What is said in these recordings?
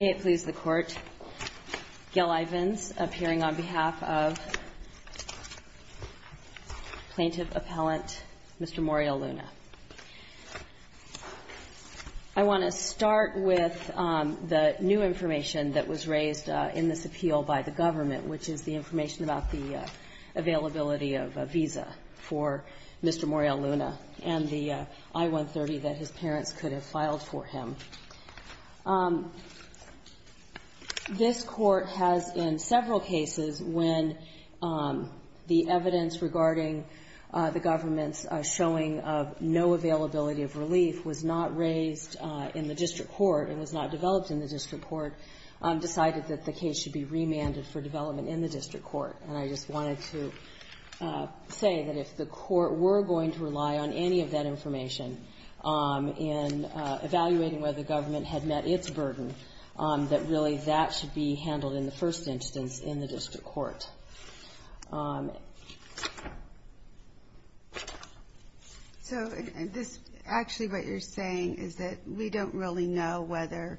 May it please the Court, Gail Ivins, appearing on behalf of Plaintiff Appellant Mr. Moriel-Luna. I want to start with the new information that was raised in this appeal by the government, which is the information about the availability of a visa for Mr. Moriel-Luna and the I-130 that his parents could have filed for him. This Court has, in several cases, when the evidence regarding the government's showing of no availability of relief was not raised in the district court and was not developed in the district court, decided that the case should be remanded for development in the district court. And I just wanted to say that if the court were going to rely on any of that information in evaluating whether the government had met its burden, that really that should be handled in the first instance in the district court. So this actually what you're saying is that we don't really know whether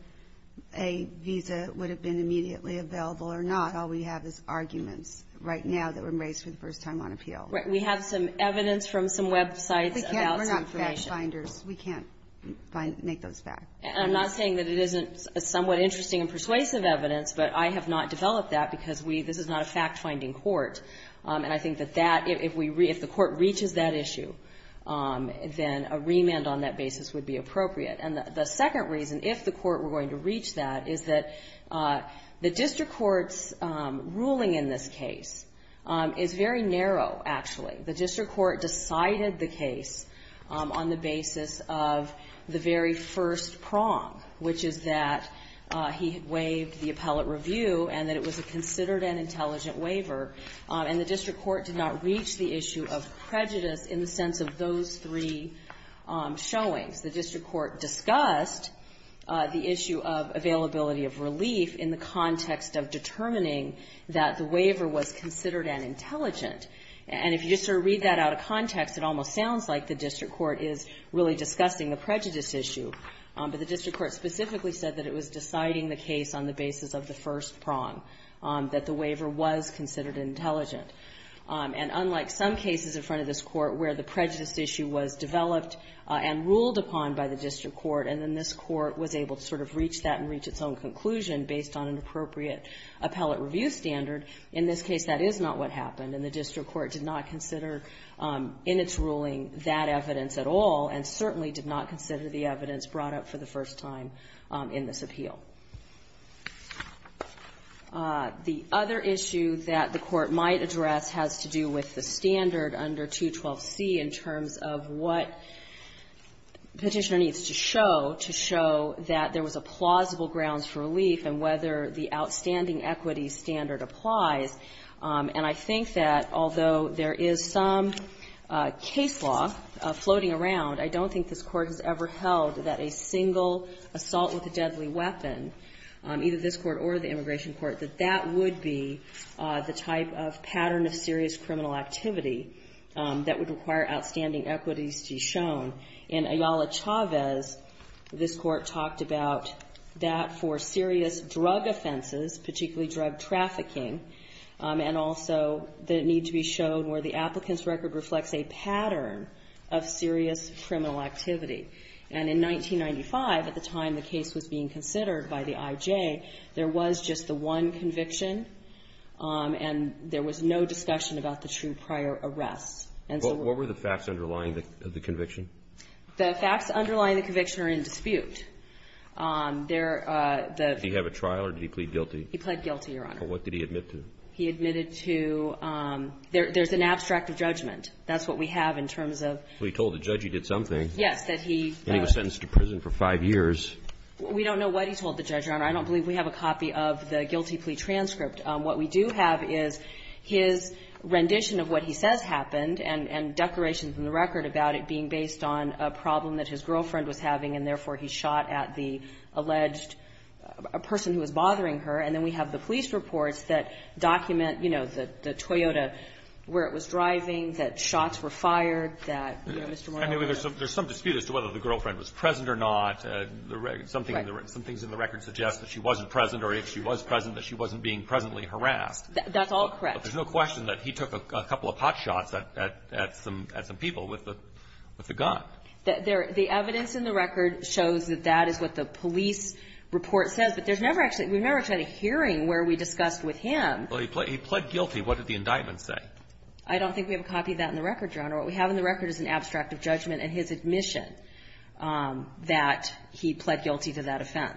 a visa would have been immediately available or not. All we have is arguments right now that were raised for the first time on appeal. Right. We have some evidence from some websites about some information. We're not fact-finders. We can't make those facts. And I'm not saying that it isn't somewhat interesting and persuasive evidence, but I have not developed that because this is not a fact-finding court. And I think that that, if the court reaches that issue, then a remand on that basis would be appropriate. And the second reason, if the court were going to reach that, is that the district court's ruling in this case is very narrow, actually. The district court decided the case on the basis of the very first prong, which is that he had waived the appellate review and that it was a considered and intelligent waiver, and the district court did not reach the issue of prejudice in the sense of those three showings. The district court discussed the issue of availability of relief in the context of determining that the waiver was considered and intelligent. And if you just sort of read that out of context, it almost sounds like the district court is really discussing the prejudice issue, but the district court specifically said that it was deciding the case on the basis of the first prong, that the waiver was considered intelligent. And unlike some cases in front of this court where the prejudice issue was developed and ruled upon by the district court, and then this sort of reached that and reached its own conclusion based on an appropriate appellate review standard, in this case that is not what happened, and the district court did not consider in its ruling that evidence at all, and certainly did not consider the evidence brought up for the first time in this appeal. The other issue that the court might address has to do with the standard under 212C in terms of what Petitioner needs to show to show that there was plausible grounds for relief and whether the outstanding equity standard applies. And I think that although there is some case law floating around, I don't think this Court has ever held that a single assault with a deadly weapon, either this Court or the immigration court, that that would be the type of pattern of serious criminal activity that would require outstanding equities to be shown. In Ayala Chavez, this Court talked about that for serious drug offenses, particularly drug trafficking, and also the need to be shown where the applicant's record reflects a pattern of serious criminal activity. And in 1995, at the time the case was being considered by the IJ, there was just the one conviction, and there was no discussion about the true cause of the prior arrests. And so what were the facts underlying the conviction? The facts underlying the conviction are in dispute. Do you have a trial, or did he plead guilty? He pled guilty, Your Honor. What did he admit to? He admitted to, there's an abstract of judgment. That's what we have in terms of Well, he told the judge he did something. Yes, that he And he was sentenced to prison for five years. We don't know what he told the judge, Your Honor. I don't believe we have a copy of the guilty plea transcript. What we do have is his rendition of what he says happened, and decorations in the record about it being based on a problem that his girlfriend was having, and therefore he shot at the alleged person who was bothering her. And then we have the police reports that document, you know, the Toyota, where it was driving, that shots were fired, that, you know, Mr. Morello I mean, there's some dispute as to whether the girlfriend was present or not. Right. Some things in the record suggest that she wasn't present, or if she was present that she wasn't being presently harassed. That's all correct. But there's no question that he took a couple of pot shots at some people with the gun. The evidence in the record shows that that is what the police report says, but there's never actually, we've never tried a hearing where we discussed with him Well, he pled guilty. What did the indictment say? I don't think we have a copy of that in the record, Your Honor. What we have in the defense.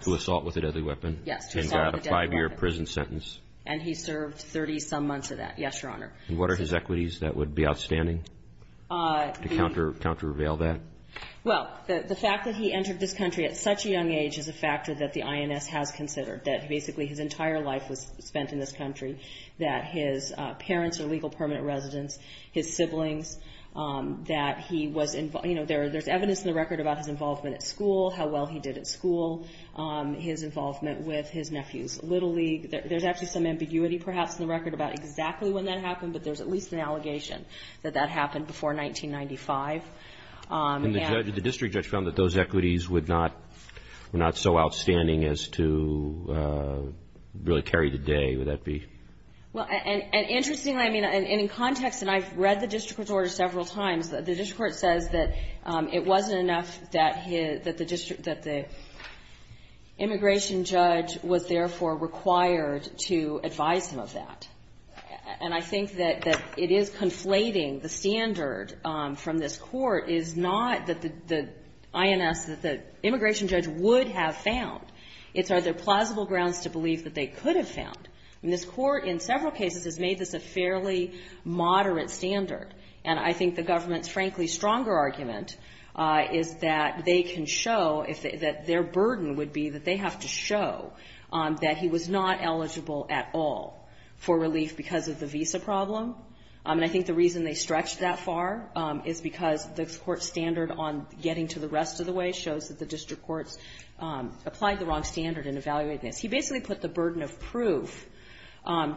To assault with a deadly weapon. Yes, to assault with a deadly weapon. And got a five-year prison sentence. And he served 30-some months of that. Yes, Your Honor. And what are his equities that would be outstanding to counter-reveal that? Well, the fact that he entered this country at such a young age is a factor that the INS has considered, that basically his entire life was spent in this country, that his parents are legal permanent residents, his siblings, that he was, you know, there's evidence in the record about his involvement at school, how well he did at school, his involvement with his nephew's little league. There's actually some ambiguity, perhaps, in the record about exactly when that happened, but there's at least an allegation that that happened before 1995. And the district judge found that those equities would not, were not so outstanding as to really carry the day, would that be? Well, and interestingly, I mean, and in context, and I've read the district court's order several times, the district court says that it wasn't enough that his, that the district, that the immigration judge was therefore required to advise him of that. And I think that it is conflating the standard from this court, is not that the INS, that the immigration judge would have found, it's are there plausible grounds to believe that they could have found. And this court, in several cases, has made this a fairly moderate standard. And I think the government's, frankly, stronger argument is that they can show, that their burden would be that they have to show that he was not eligible at all for relief because of the visa problem. And I think the reason they stretched that far is because the court's standard on getting to the rest of the way shows that the district courts applied the wrong standard in evaluating this. He basically put the burden of proof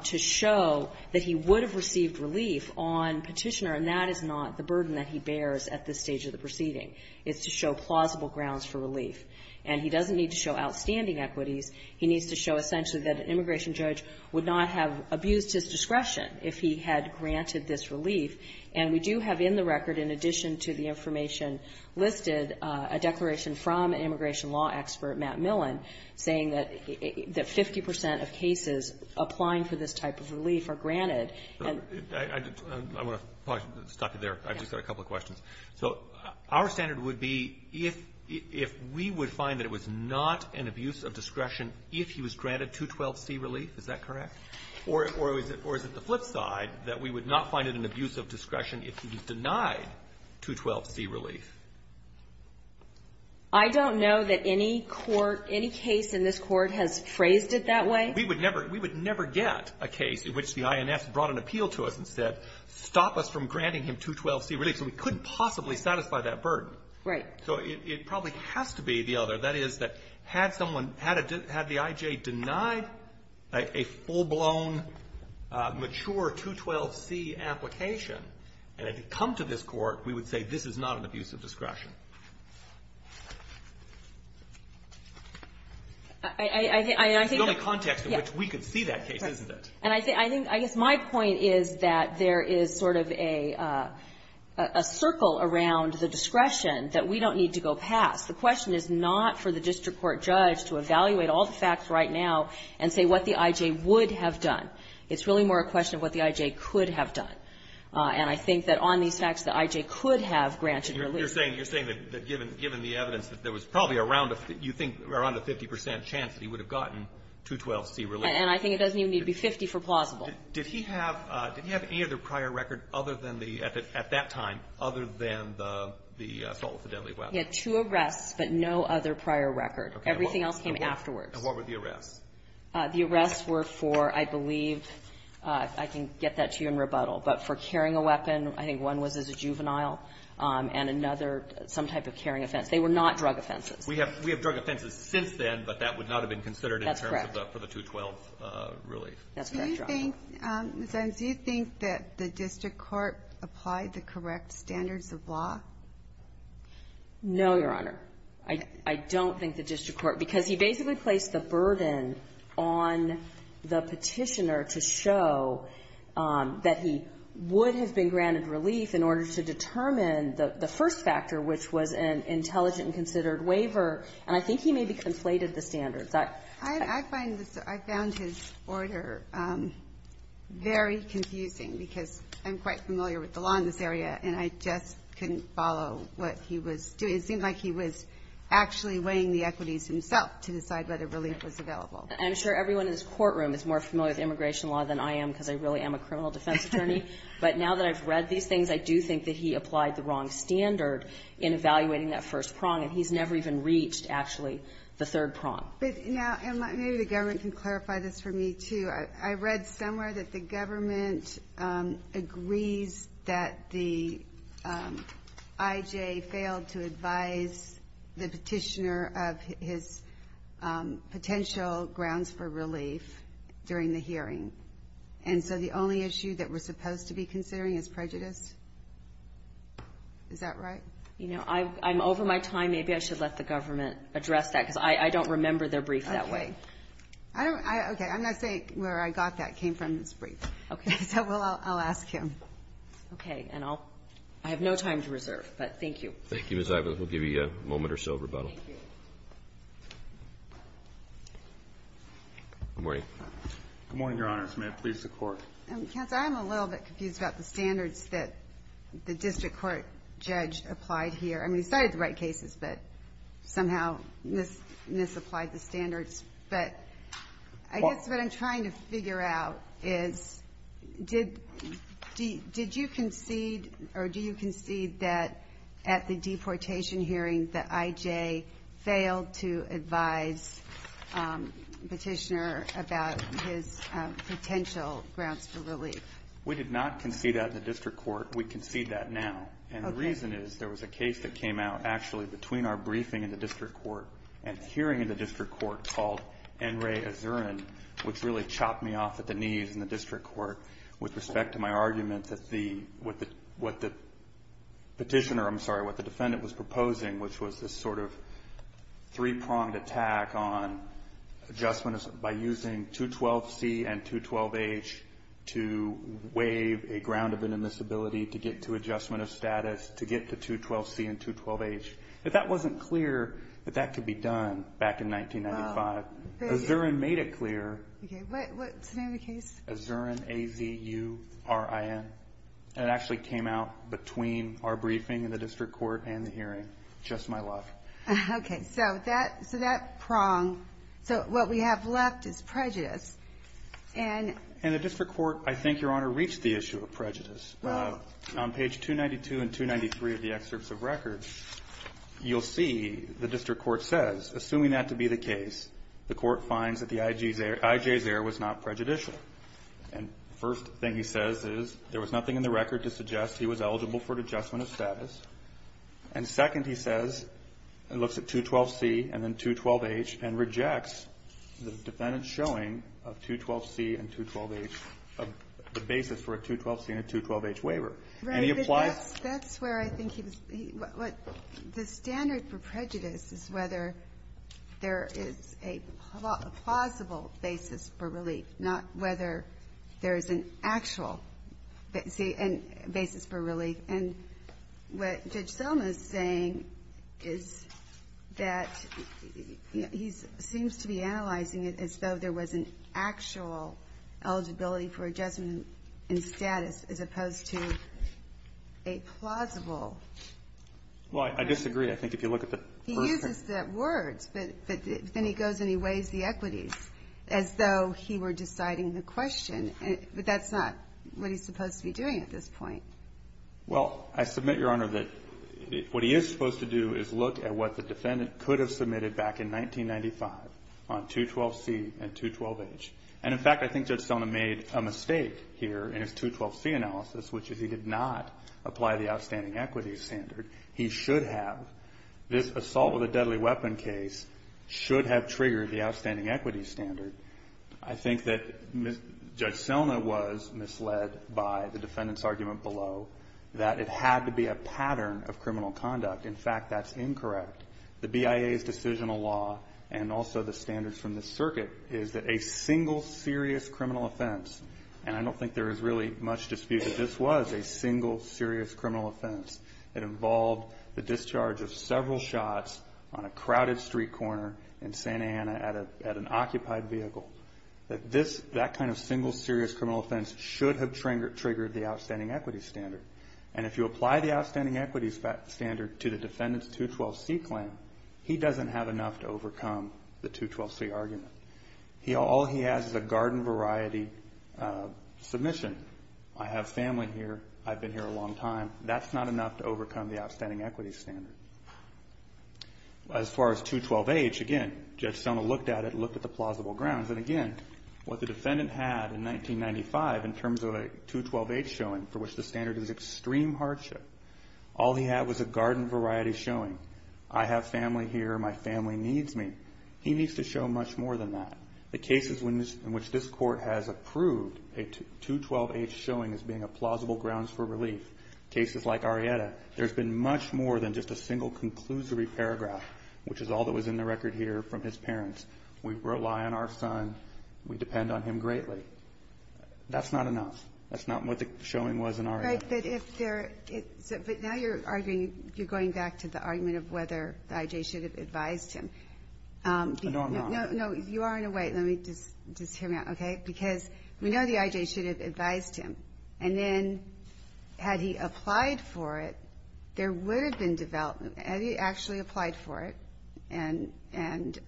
to show that he was eligible, and that is not the burden that he bears at this stage of the proceeding. It's to show plausible grounds for relief. And he doesn't need to show outstanding equities. He needs to show essentially that an immigration judge would not have abused his discretion if he had granted this relief. And we do have in the record, in addition to the information listed, a declaration from an immigration law expert, Matt Millen, saying that 50 percent of cases applying for this type of relief are granted. I want to stop you there. I've just got a couple of questions. So our standard would be if we would find that it was not an abuse of discretion if he was granted 212C relief, is that correct? Or is it the flip side, that we would not find it an abuse of discretion if he was denied 212C relief? I don't know that any court, any case in this Court has phrased it that way. We would never get a case in which the INS brought an appeal to us and said stop us from granting him 212C relief. So we couldn't possibly satisfy that burden. Right. So it probably has to be the other. That is, that had someone, had the I.J. denied a full-blown, mature 212C application and it had come to this Court, we would say this is not an abuse of discretion. It's the only context in which we could see that case, isn't it? And I think, I think, I guess my point is that there is sort of a, a circle around the discretion that we don't need to go past. The question is not for the district court judge to evaluate all the facts right now and say what the I.J. would have done. It's really more a question of what the I.J. could have done. And I think that on these facts, the I.J. could have granted relief. You're saying, you're saying that given, given the evidence that there was probably around a, you think around a 50 percent chance that he would have gotten 212C relief. And I think it doesn't even need to be 50 for plausible. Did he have, did he have any other prior record other than the, at that time, other than the assault with a deadly weapon? He had two arrests, but no other prior record. Okay. Everything else came afterwards. And what were the arrests? The arrests were for, I believe, I can get that to you in rebuttal, but for carrying a weapon, I think one was as a juvenile, and another, some type of carrying offense. They were not drug offenses. We have, we have drug offenses since then, but that would not have been considered in terms of the, for the 212 relief. That's correct. That's correct, Your Honor. Do you think, Ms. Enns, do you think that the district court applied the correct standards of law? No, Your Honor. I, I don't think the district court, because he basically placed the burden on the district court, and the district court has always been granted relief in order to determine the, the first factor, which was an intelligent and considered waiver, and I think he maybe conflated the standards. I, I find this, I found his order very confusing because I'm quite familiar with the law in this area, and I just couldn't follow what he was doing. It seemed like he was actually weighing the equities himself to decide whether relief was available. I'm sure everyone in this courtroom is more familiar with immigration law than I am because I really am a criminal defense attorney. But now that I've read these things, I do think that he applied the wrong standard in evaluating that first prong, and he's never even reached, actually, the third prong. But now, and maybe the government can clarify this for me, too. I, I read somewhere that the government agrees that the IJ failed to advise the petitioner of his potential grounds for relief during the hearing. And so the only issue that we're supposed to be considering is prejudice? Is that right? You know, I, I'm over my time. Maybe I should let the government address that because I, I don't remember their brief that way. Okay. I don't, I, okay. I'm not saying where I got that came from this brief. Okay. So we'll, I'll ask him. Okay. And I'll, I have no time to reserve, but thank you. Thank you, Ms. Ives. We'll give you a moment or so of rebuttal. Thank you. Good morning. Good morning, Your Honors. May it please the Court. Counsel, I'm a little bit confused about the standards that the district court judge applied here. I mean, he cited the right cases, but somehow mis, misapplied the standards. But I guess what I'm trying to figure out is did, did, did you concede, or do you concede that at the deportation hearing the IJ failed to advise the petitioner about his potential grounds for relief? We did not concede that in the district court. We concede that now. Okay. And the reason is there was a case that came out actually between our briefing in the district court and hearing in the district court called N. Ray Azuran, which really chopped me off at the knees in the district court with respect to my argument that the, what the, what the petitioner, I'm sorry, what the petitioner had done, adjustment, by using 212C and 212H to waive a ground of inadmissibility to get to adjustment of status, to get to 212C and 212H. If that wasn't clear that that could be done back in 1995. Azuran made it clear. Okay. What, what's the name of the case? Azuran, A-Z-U-R-I-N. And it actually came out between our briefing in the district court and the hearing. Just my luck. Okay. So that, so that prong, so what we have left is prejudice. And. And the district court, I think, Your Honor, reached the issue of prejudice. Well. On page 292 and 293 of the excerpts of record, you'll see the district court says, assuming that to be the case, the court finds that the IJ's error was not prejudicial. And first thing he says is there was nothing in the record to suggest he was eligible for adjustment of status. And second he says, and looks at 212C and then 212H, and rejects the defendant's showing of 212C and 212H, the basis for a 212C and a 212H waiver. And he applies. Right. But that's, that's where I think he was, he, what, what, the standard for prejudice is whether there is a plausible basis for relief, not whether there is an actual, see, and basis for relief. And what Judge Selma is saying is that he's, seems to be analyzing it as though there was an actual eligibility for adjustment in status as opposed to a plausible. Well, I disagree. I think if you look at the first. He uses the words, but then he goes and he weighs the equities as though he were deciding the question. But that's not what he's supposed to be doing at this point. Well, I submit, Your Honor, that what he is supposed to do is look at what the defendant could have submitted back in 1995 on 212C and 212H. And in fact, I think Judge Selma made a mistake here in his 212C analysis, which is he did not apply the outstanding equities standard. He should have. This assault with a deadly weapon case should have triggered the outstanding equities standard. I think that Judge Selma was misled by the defendant's argument below that it had to be a pattern of criminal conduct. In fact, that's incorrect. The BIA's decisional law, and also the standards from the circuit, is that a single serious criminal offense, and I don't think there is really much dispute that this was a single serious criminal offense. It involved the discharge of several shots on a crowded street corner in Santa Ana at an occupied vehicle. That kind of single serious criminal offense should have triggered the outstanding equities standard. And if you apply the outstanding equities standard to the defendant's 212C claim, he doesn't have enough to overcome the 212C argument. All he has is a garden variety submission. I have family here. I've been here a long time. That's not enough to overcome the outstanding equities standard. As far as 212H, again, Judge Selma looked at it and looked at the plausible grounds. And again, what the defendant had in 1995 in terms of a 212H showing for which the standard is extreme hardship, all he had was a garden variety showing. I have family here. My family needs me. He needs to show much more than that. The cases in which this court has approved a 212H showing as being a plausible grounds for relief, cases like Arrieta, there's been much more than just a single conclusory paragraph, which is all that was in the record here from his parents. We rely on our son. We depend on him greatly. That's not enough. That's not what the showing was in Arrieta. But if there – but now you're arguing – you're going back to the argument of whether the I.J. should have advised him. No, I'm not. No, you are in a way. Let me just – just hear me out, okay? Because we know the I.J. should have advised him. And then had he applied for it, there would have been – had he actually applied for it – and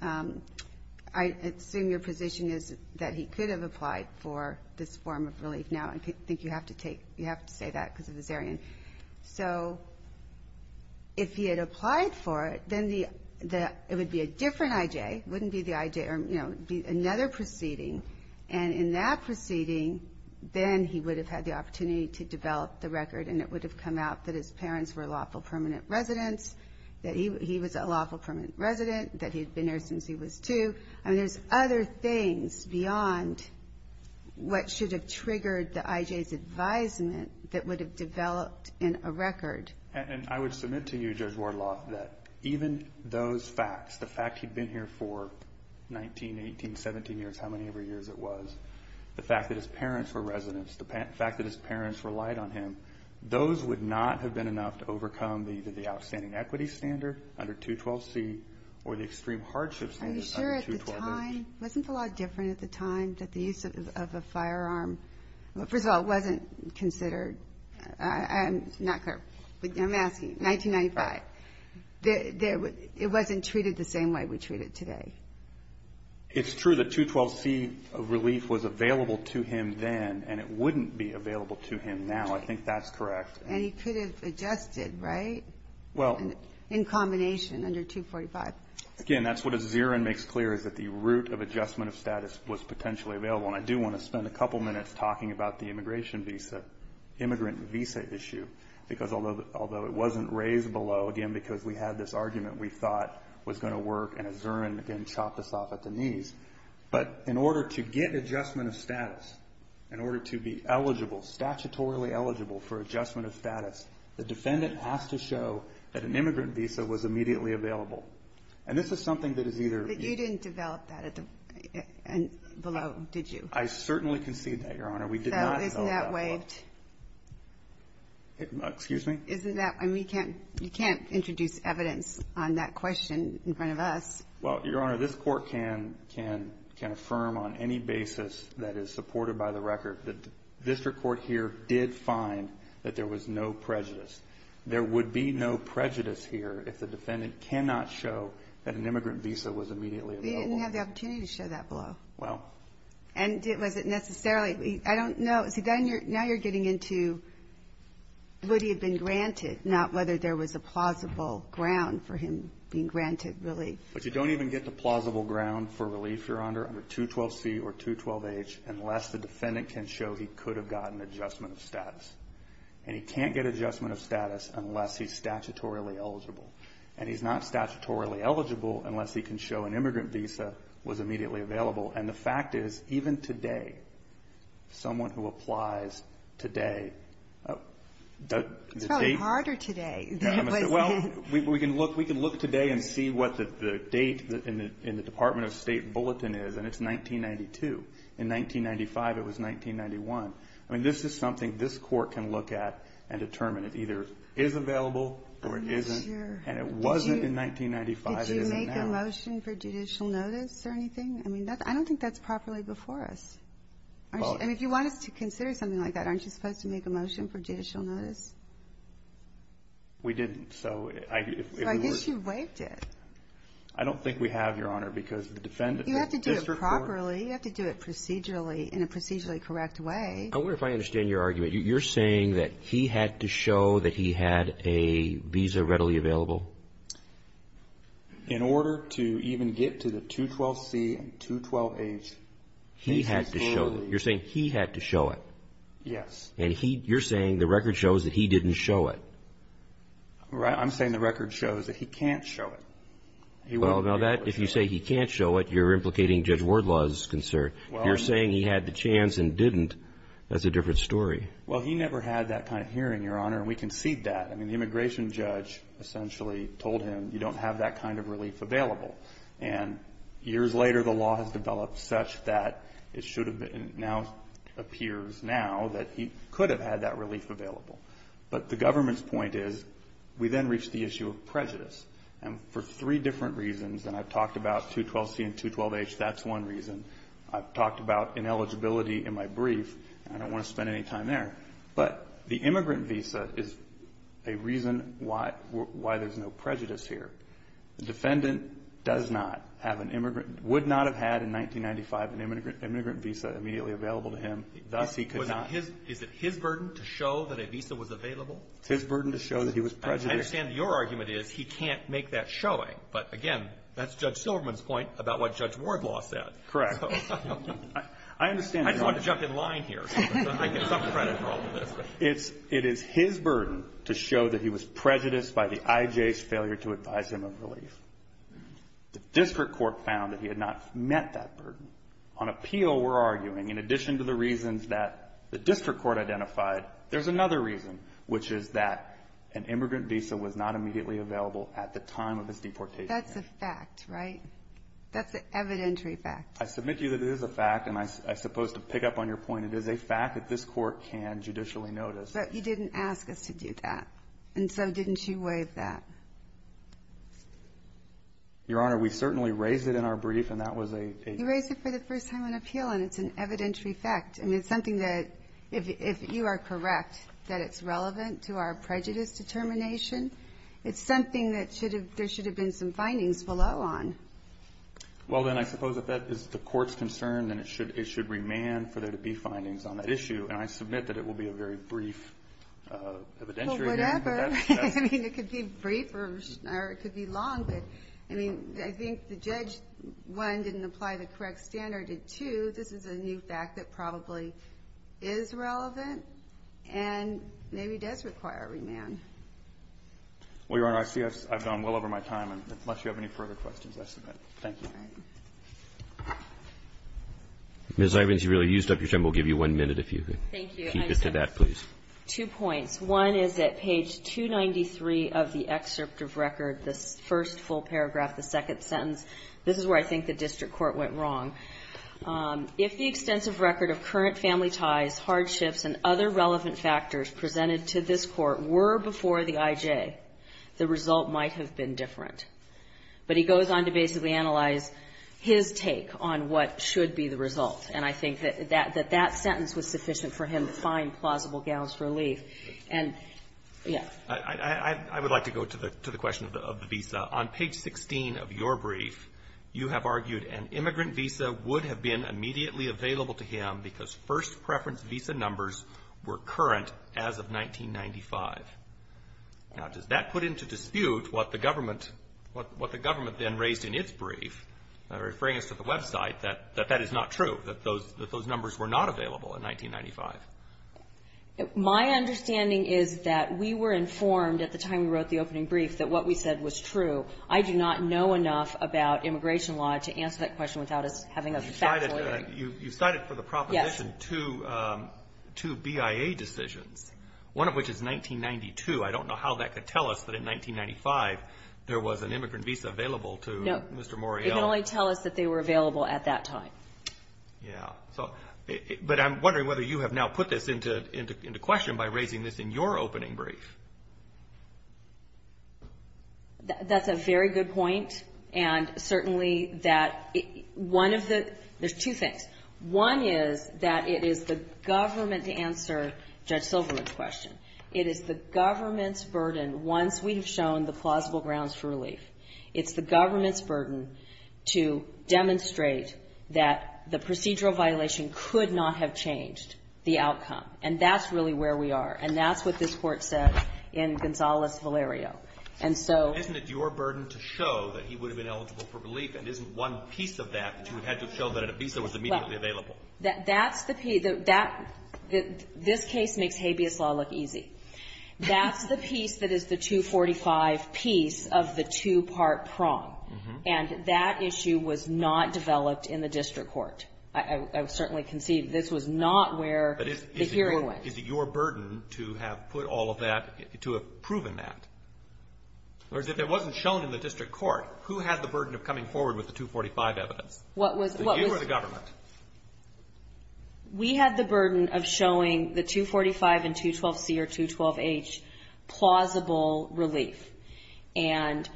I assume your position is that he could have applied for this form of relief now. I think you have to take – you have to say that because of the Zarian. So if he had applied for it, then the – it would be a different I.J. It wouldn't be the I.J. or, you know, another proceeding. And in that proceeding, then he would have had the opportunity to develop the record, and it would have come out that his parents were lawful permanent residents, that he was a lawful permanent resident, that he had been there since he was two. I mean, there's other things beyond what should have triggered the I.J.'s advisement that would have developed in a record. And I would submit to you, Judge Wardloff, that even those facts – the fact that he'd been here for 19, 18, 17 years, how many ever years it was, the fact that his parents were residents, the fact that his parents relied on him, those would not have been enough to overcome either the outstanding equity standard under 212C or the extreme hardship standard under 212A. Are you sure at the time – wasn't it a lot different at the time that the use of a firearm – first of all, it wasn't considered – I'm not clear, but I'm asking – 1995. It wasn't treated the same way we treat it today. It's true that 212C relief was available to him then, and it wouldn't be available to him now. I think that's correct. And he could have adjusted, right? In combination, under 245. Again, that's what Aziran makes clear, is that the route of adjustment of status was potentially available. And I do want to spend a couple minutes talking about the immigration visa, immigrant visa issue. Because although it wasn't raised below, again, because we had this argument we thought was going to work, and Aziran, again, chopped us off at the knees, but in order to get adjustment of status, in order to be eligible, statutorily eligible for adjustment of status, the defendant has to show that an immigrant visa was immediately available. And this is something that is either – But you didn't develop that below, did you? I certainly concede that, Your Honor. We did not develop that below. So isn't that waived? Excuse me? Isn't that – I mean, you can't introduce evidence on that question in front of us. Well, Your Honor, this Court can affirm on any basis that is supported by the record that the district court here did find that there was no prejudice. There would be no prejudice here if the defendant cannot show that an immigrant visa was immediately available. We didn't have the opportunity to show that below. Well. And was it necessarily – I don't know. See, now you're getting into would he have been granted, not whether there was a plausible ground for him being granted relief. But you don't even get the plausible ground for relief, Your Honor, under 212C or 212H unless the defendant can show he could have gotten adjustment of status. And he can't get adjustment of status unless he's statutorily eligible. And he's not statutorily eligible unless he can show an immigrant visa was immediately available. And the fact is, even today, someone who applies today – It's probably harder today. Well, we can look today and see what the date in the Department of State bulletin is, and it's 1992. In 1995, it was 1991. I mean, this is something this Court can look at and determine. It either is available or it isn't. I'm not sure. And it wasn't in 1995. It isn't now. Did you make a motion for judicial notice or anything? I mean, I don't think that's properly before us. And if you want us to consider something like that, aren't you supposed to make a motion for judicial notice? We didn't, so if we were – So I guess you waived it. I don't think we have, Your Honor, because the defendant – You have to do it properly. You have to do it procedurally in a procedurally correct way. I wonder if I understand your argument. You're saying that he had to show that he had a visa readily available? In order to even get to the 212C and 212H. He had to show that. You're saying he had to show it. Yes. And you're saying the record shows that he didn't show it. I'm saying the record shows that he can't show it. Well, now that, if you say he can't show it, you're implicating Judge Wardlaw's concern. You're saying he had the chance and didn't. That's a different story. Well, he never had that kind of hearing, Your Honor, and we concede that. I mean, the immigration judge essentially told him you don't have that kind of relief available. And years later, the law has developed such that it should have been – it now appears now that he could have had that relief available. But the government's point is we then reached the issue of prejudice. And for three different reasons, and I've talked about 212C and 212H. That's one reason. I've talked about ineligibility in my brief. I don't want to spend any time there. But the immigrant visa is a reason why there's no prejudice here. The defendant does not have an immigrant – would not have had in 1995 an immigrant visa immediately available to him. Thus, he could not – Is it his burden to show that a visa was available? It's his burden to show that he was prejudiced. I understand your argument is he can't make that showing. But, again, that's Judge Silverman's point about what Judge Wardlaw said. Correct. I understand – I just want to jump in line here. I get some credit for all of this. It is his burden to show that he was prejudiced by the IJ's failure to advise him of relief. The district court found that he had not met that burden. On appeal, we're arguing, in addition to the reasons that the district court identified, there's another reason, which is that an immigrant visa was not immediately available at the time of his deportation. That's a fact, right? That's an evidentiary fact. I submit to you that it is a fact. And I suppose to pick up on your point, it is a fact that this Court can judicially notice. But you didn't ask us to do that. And so didn't you waive that? Your Honor, we certainly raised it in our brief, and that was a – You raised it for the first time on appeal, and it's an evidentiary fact. I mean, it's something that, if you are correct, that it's relevant to our prejudice determination. It's something that should have – there should have been some findings below on. Well, then, I suppose if that is the Court's concern, then it should remand for there to be findings on that issue. And I submit that it will be a very brief evidentiary. Well, whatever. I mean, it could be brief, or it could be long. But, I mean, I think the judge, one, didn't apply the correct standard, and two, this is a new fact that probably is relevant and maybe does require remand. Well, Your Honor, I see I've gone well over my time, unless you have any further questions, I submit. Thank you. All right. Ms. Irons, you've really used up your time. We'll give you one minute if you could keep to that, please. Thank you. I have two points. One is at page 293 of the excerpt of record, the first full paragraph, the second sentence. This is where I think the district court went wrong. If the extensive record of current family ties, hardships, and other relevant factors presented to this Court were before the IJ, the result might have been different. But he goes on to basically analyze his take on what should be the result. And I think that that sentence was sufficient for him to find plausible gals relief. And, yeah. I would like to go to the question of the visa. On page 16 of your brief, you have argued an immigrant visa would have been immediately available to him because first preference visa numbers were current as of 1995. Now, does that put into dispute what the government then raised in its brief? They're referring us to the website, that that is not true, that those numbers were not available in 1995. My understanding is that we were informed at the time we wrote the opening brief that what we said was true. I do not know enough about immigration law to answer that question without us having a faculty. You cited for the proposition two BIA decisions, one of which is 1992. I don't know how that could tell us that in 1995 there was an immigrant visa available to Mr. Morial. It can only tell us that they were available at that time. Yeah. But I'm wondering whether you have now put this into question by raising this in your opening brief. That's a very good point. And certainly that one of the there's two things. One is that it is the government to answer Judge Silverman's question. It is the government's burden once we've shown the plausible grounds for relief. It's the government's burden to demonstrate that the procedural violation could not have changed the outcome. And that's really where we are. And that's what this Court said in Gonzales-Valerio. Isn't it your burden to show that he would have been eligible for relief and isn't one piece of that that you had to show that a visa was immediately available? That's the piece. This case makes habeas law look easy. That's the piece that is the 245 piece of the two-part prong. And that issue was not developed in the District Court. I certainly can see this was not where the hearing went. Is it your burden to have put all of that, to have proven that? Or if it wasn't shown in the District Court, who had the burden of coming forward with the 245 evidence? You or the government? We had the burden of showing the 245 and 212C or 212H plausible relief. And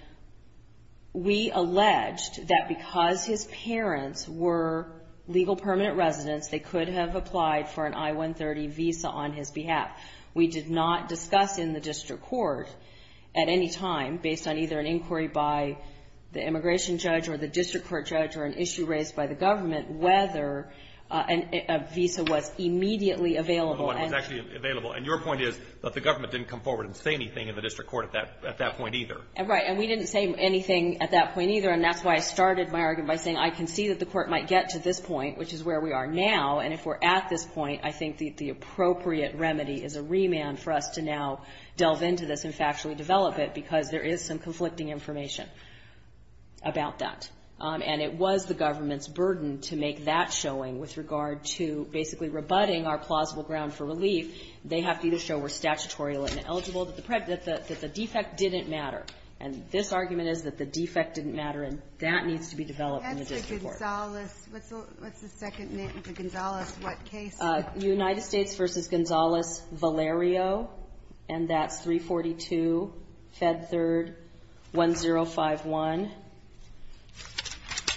we alleged that because his parents were legal permanent residents, they could have applied for an I-130 visa on his behalf. We did not discuss in the District Court at any time, based on either an inquiry by the Immigration Judge or the District Court Judge or an issue raised by the government, whether a visa was immediately available. And your point is that the government didn't come forward and say anything in the District Court at that point either. Right. And we didn't say anything at that point either. And that's why I started my argument by saying I can see that the court might get to this point, which is where we are now. And if we're at this point, I think the appropriate remedy is a remand for us to now delve into this and factually develop it because there is some conflicting information about that. And it was the government's burden to make that showing with regard to basically rebutting our plausible ground for relief, they have to either show we're statutorial and eligible, that the defect didn't matter. And this argument is that the defect didn't matter, and that needs to be developed in the District Court. What's the second name for Gonzales? What case? United States v. Gonzales, Valerio. And that's 342, Fed Third, 1051.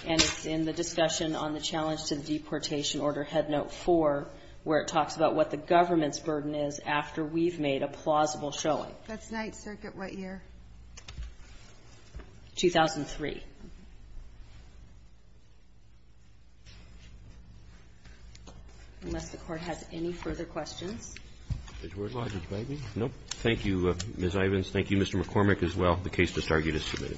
And it's in the discussion on the challenge to the deportation order, Headnote 4, where it talks about what the government's burden is after we've made a plausible showing. That's Ninth Circuit. What year? 2003. Unless the Court has any further questions. Thank you, Ms. Ivins. Thank you, Mr. McCormick, as well. The case to target is submitted.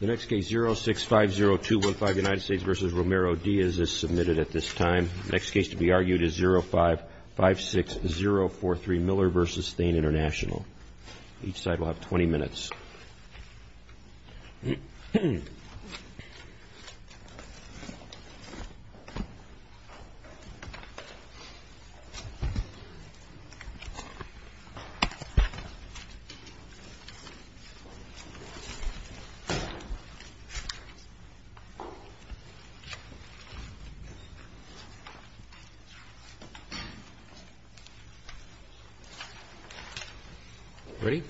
The next case, 0650215, United States v. Romero, Diaz, is submitted at this time. The next case to be argued is 0556043, Miller v. Thane International. Each side will have 20 minutes. 20 minutes. Ready? Ready? Ready.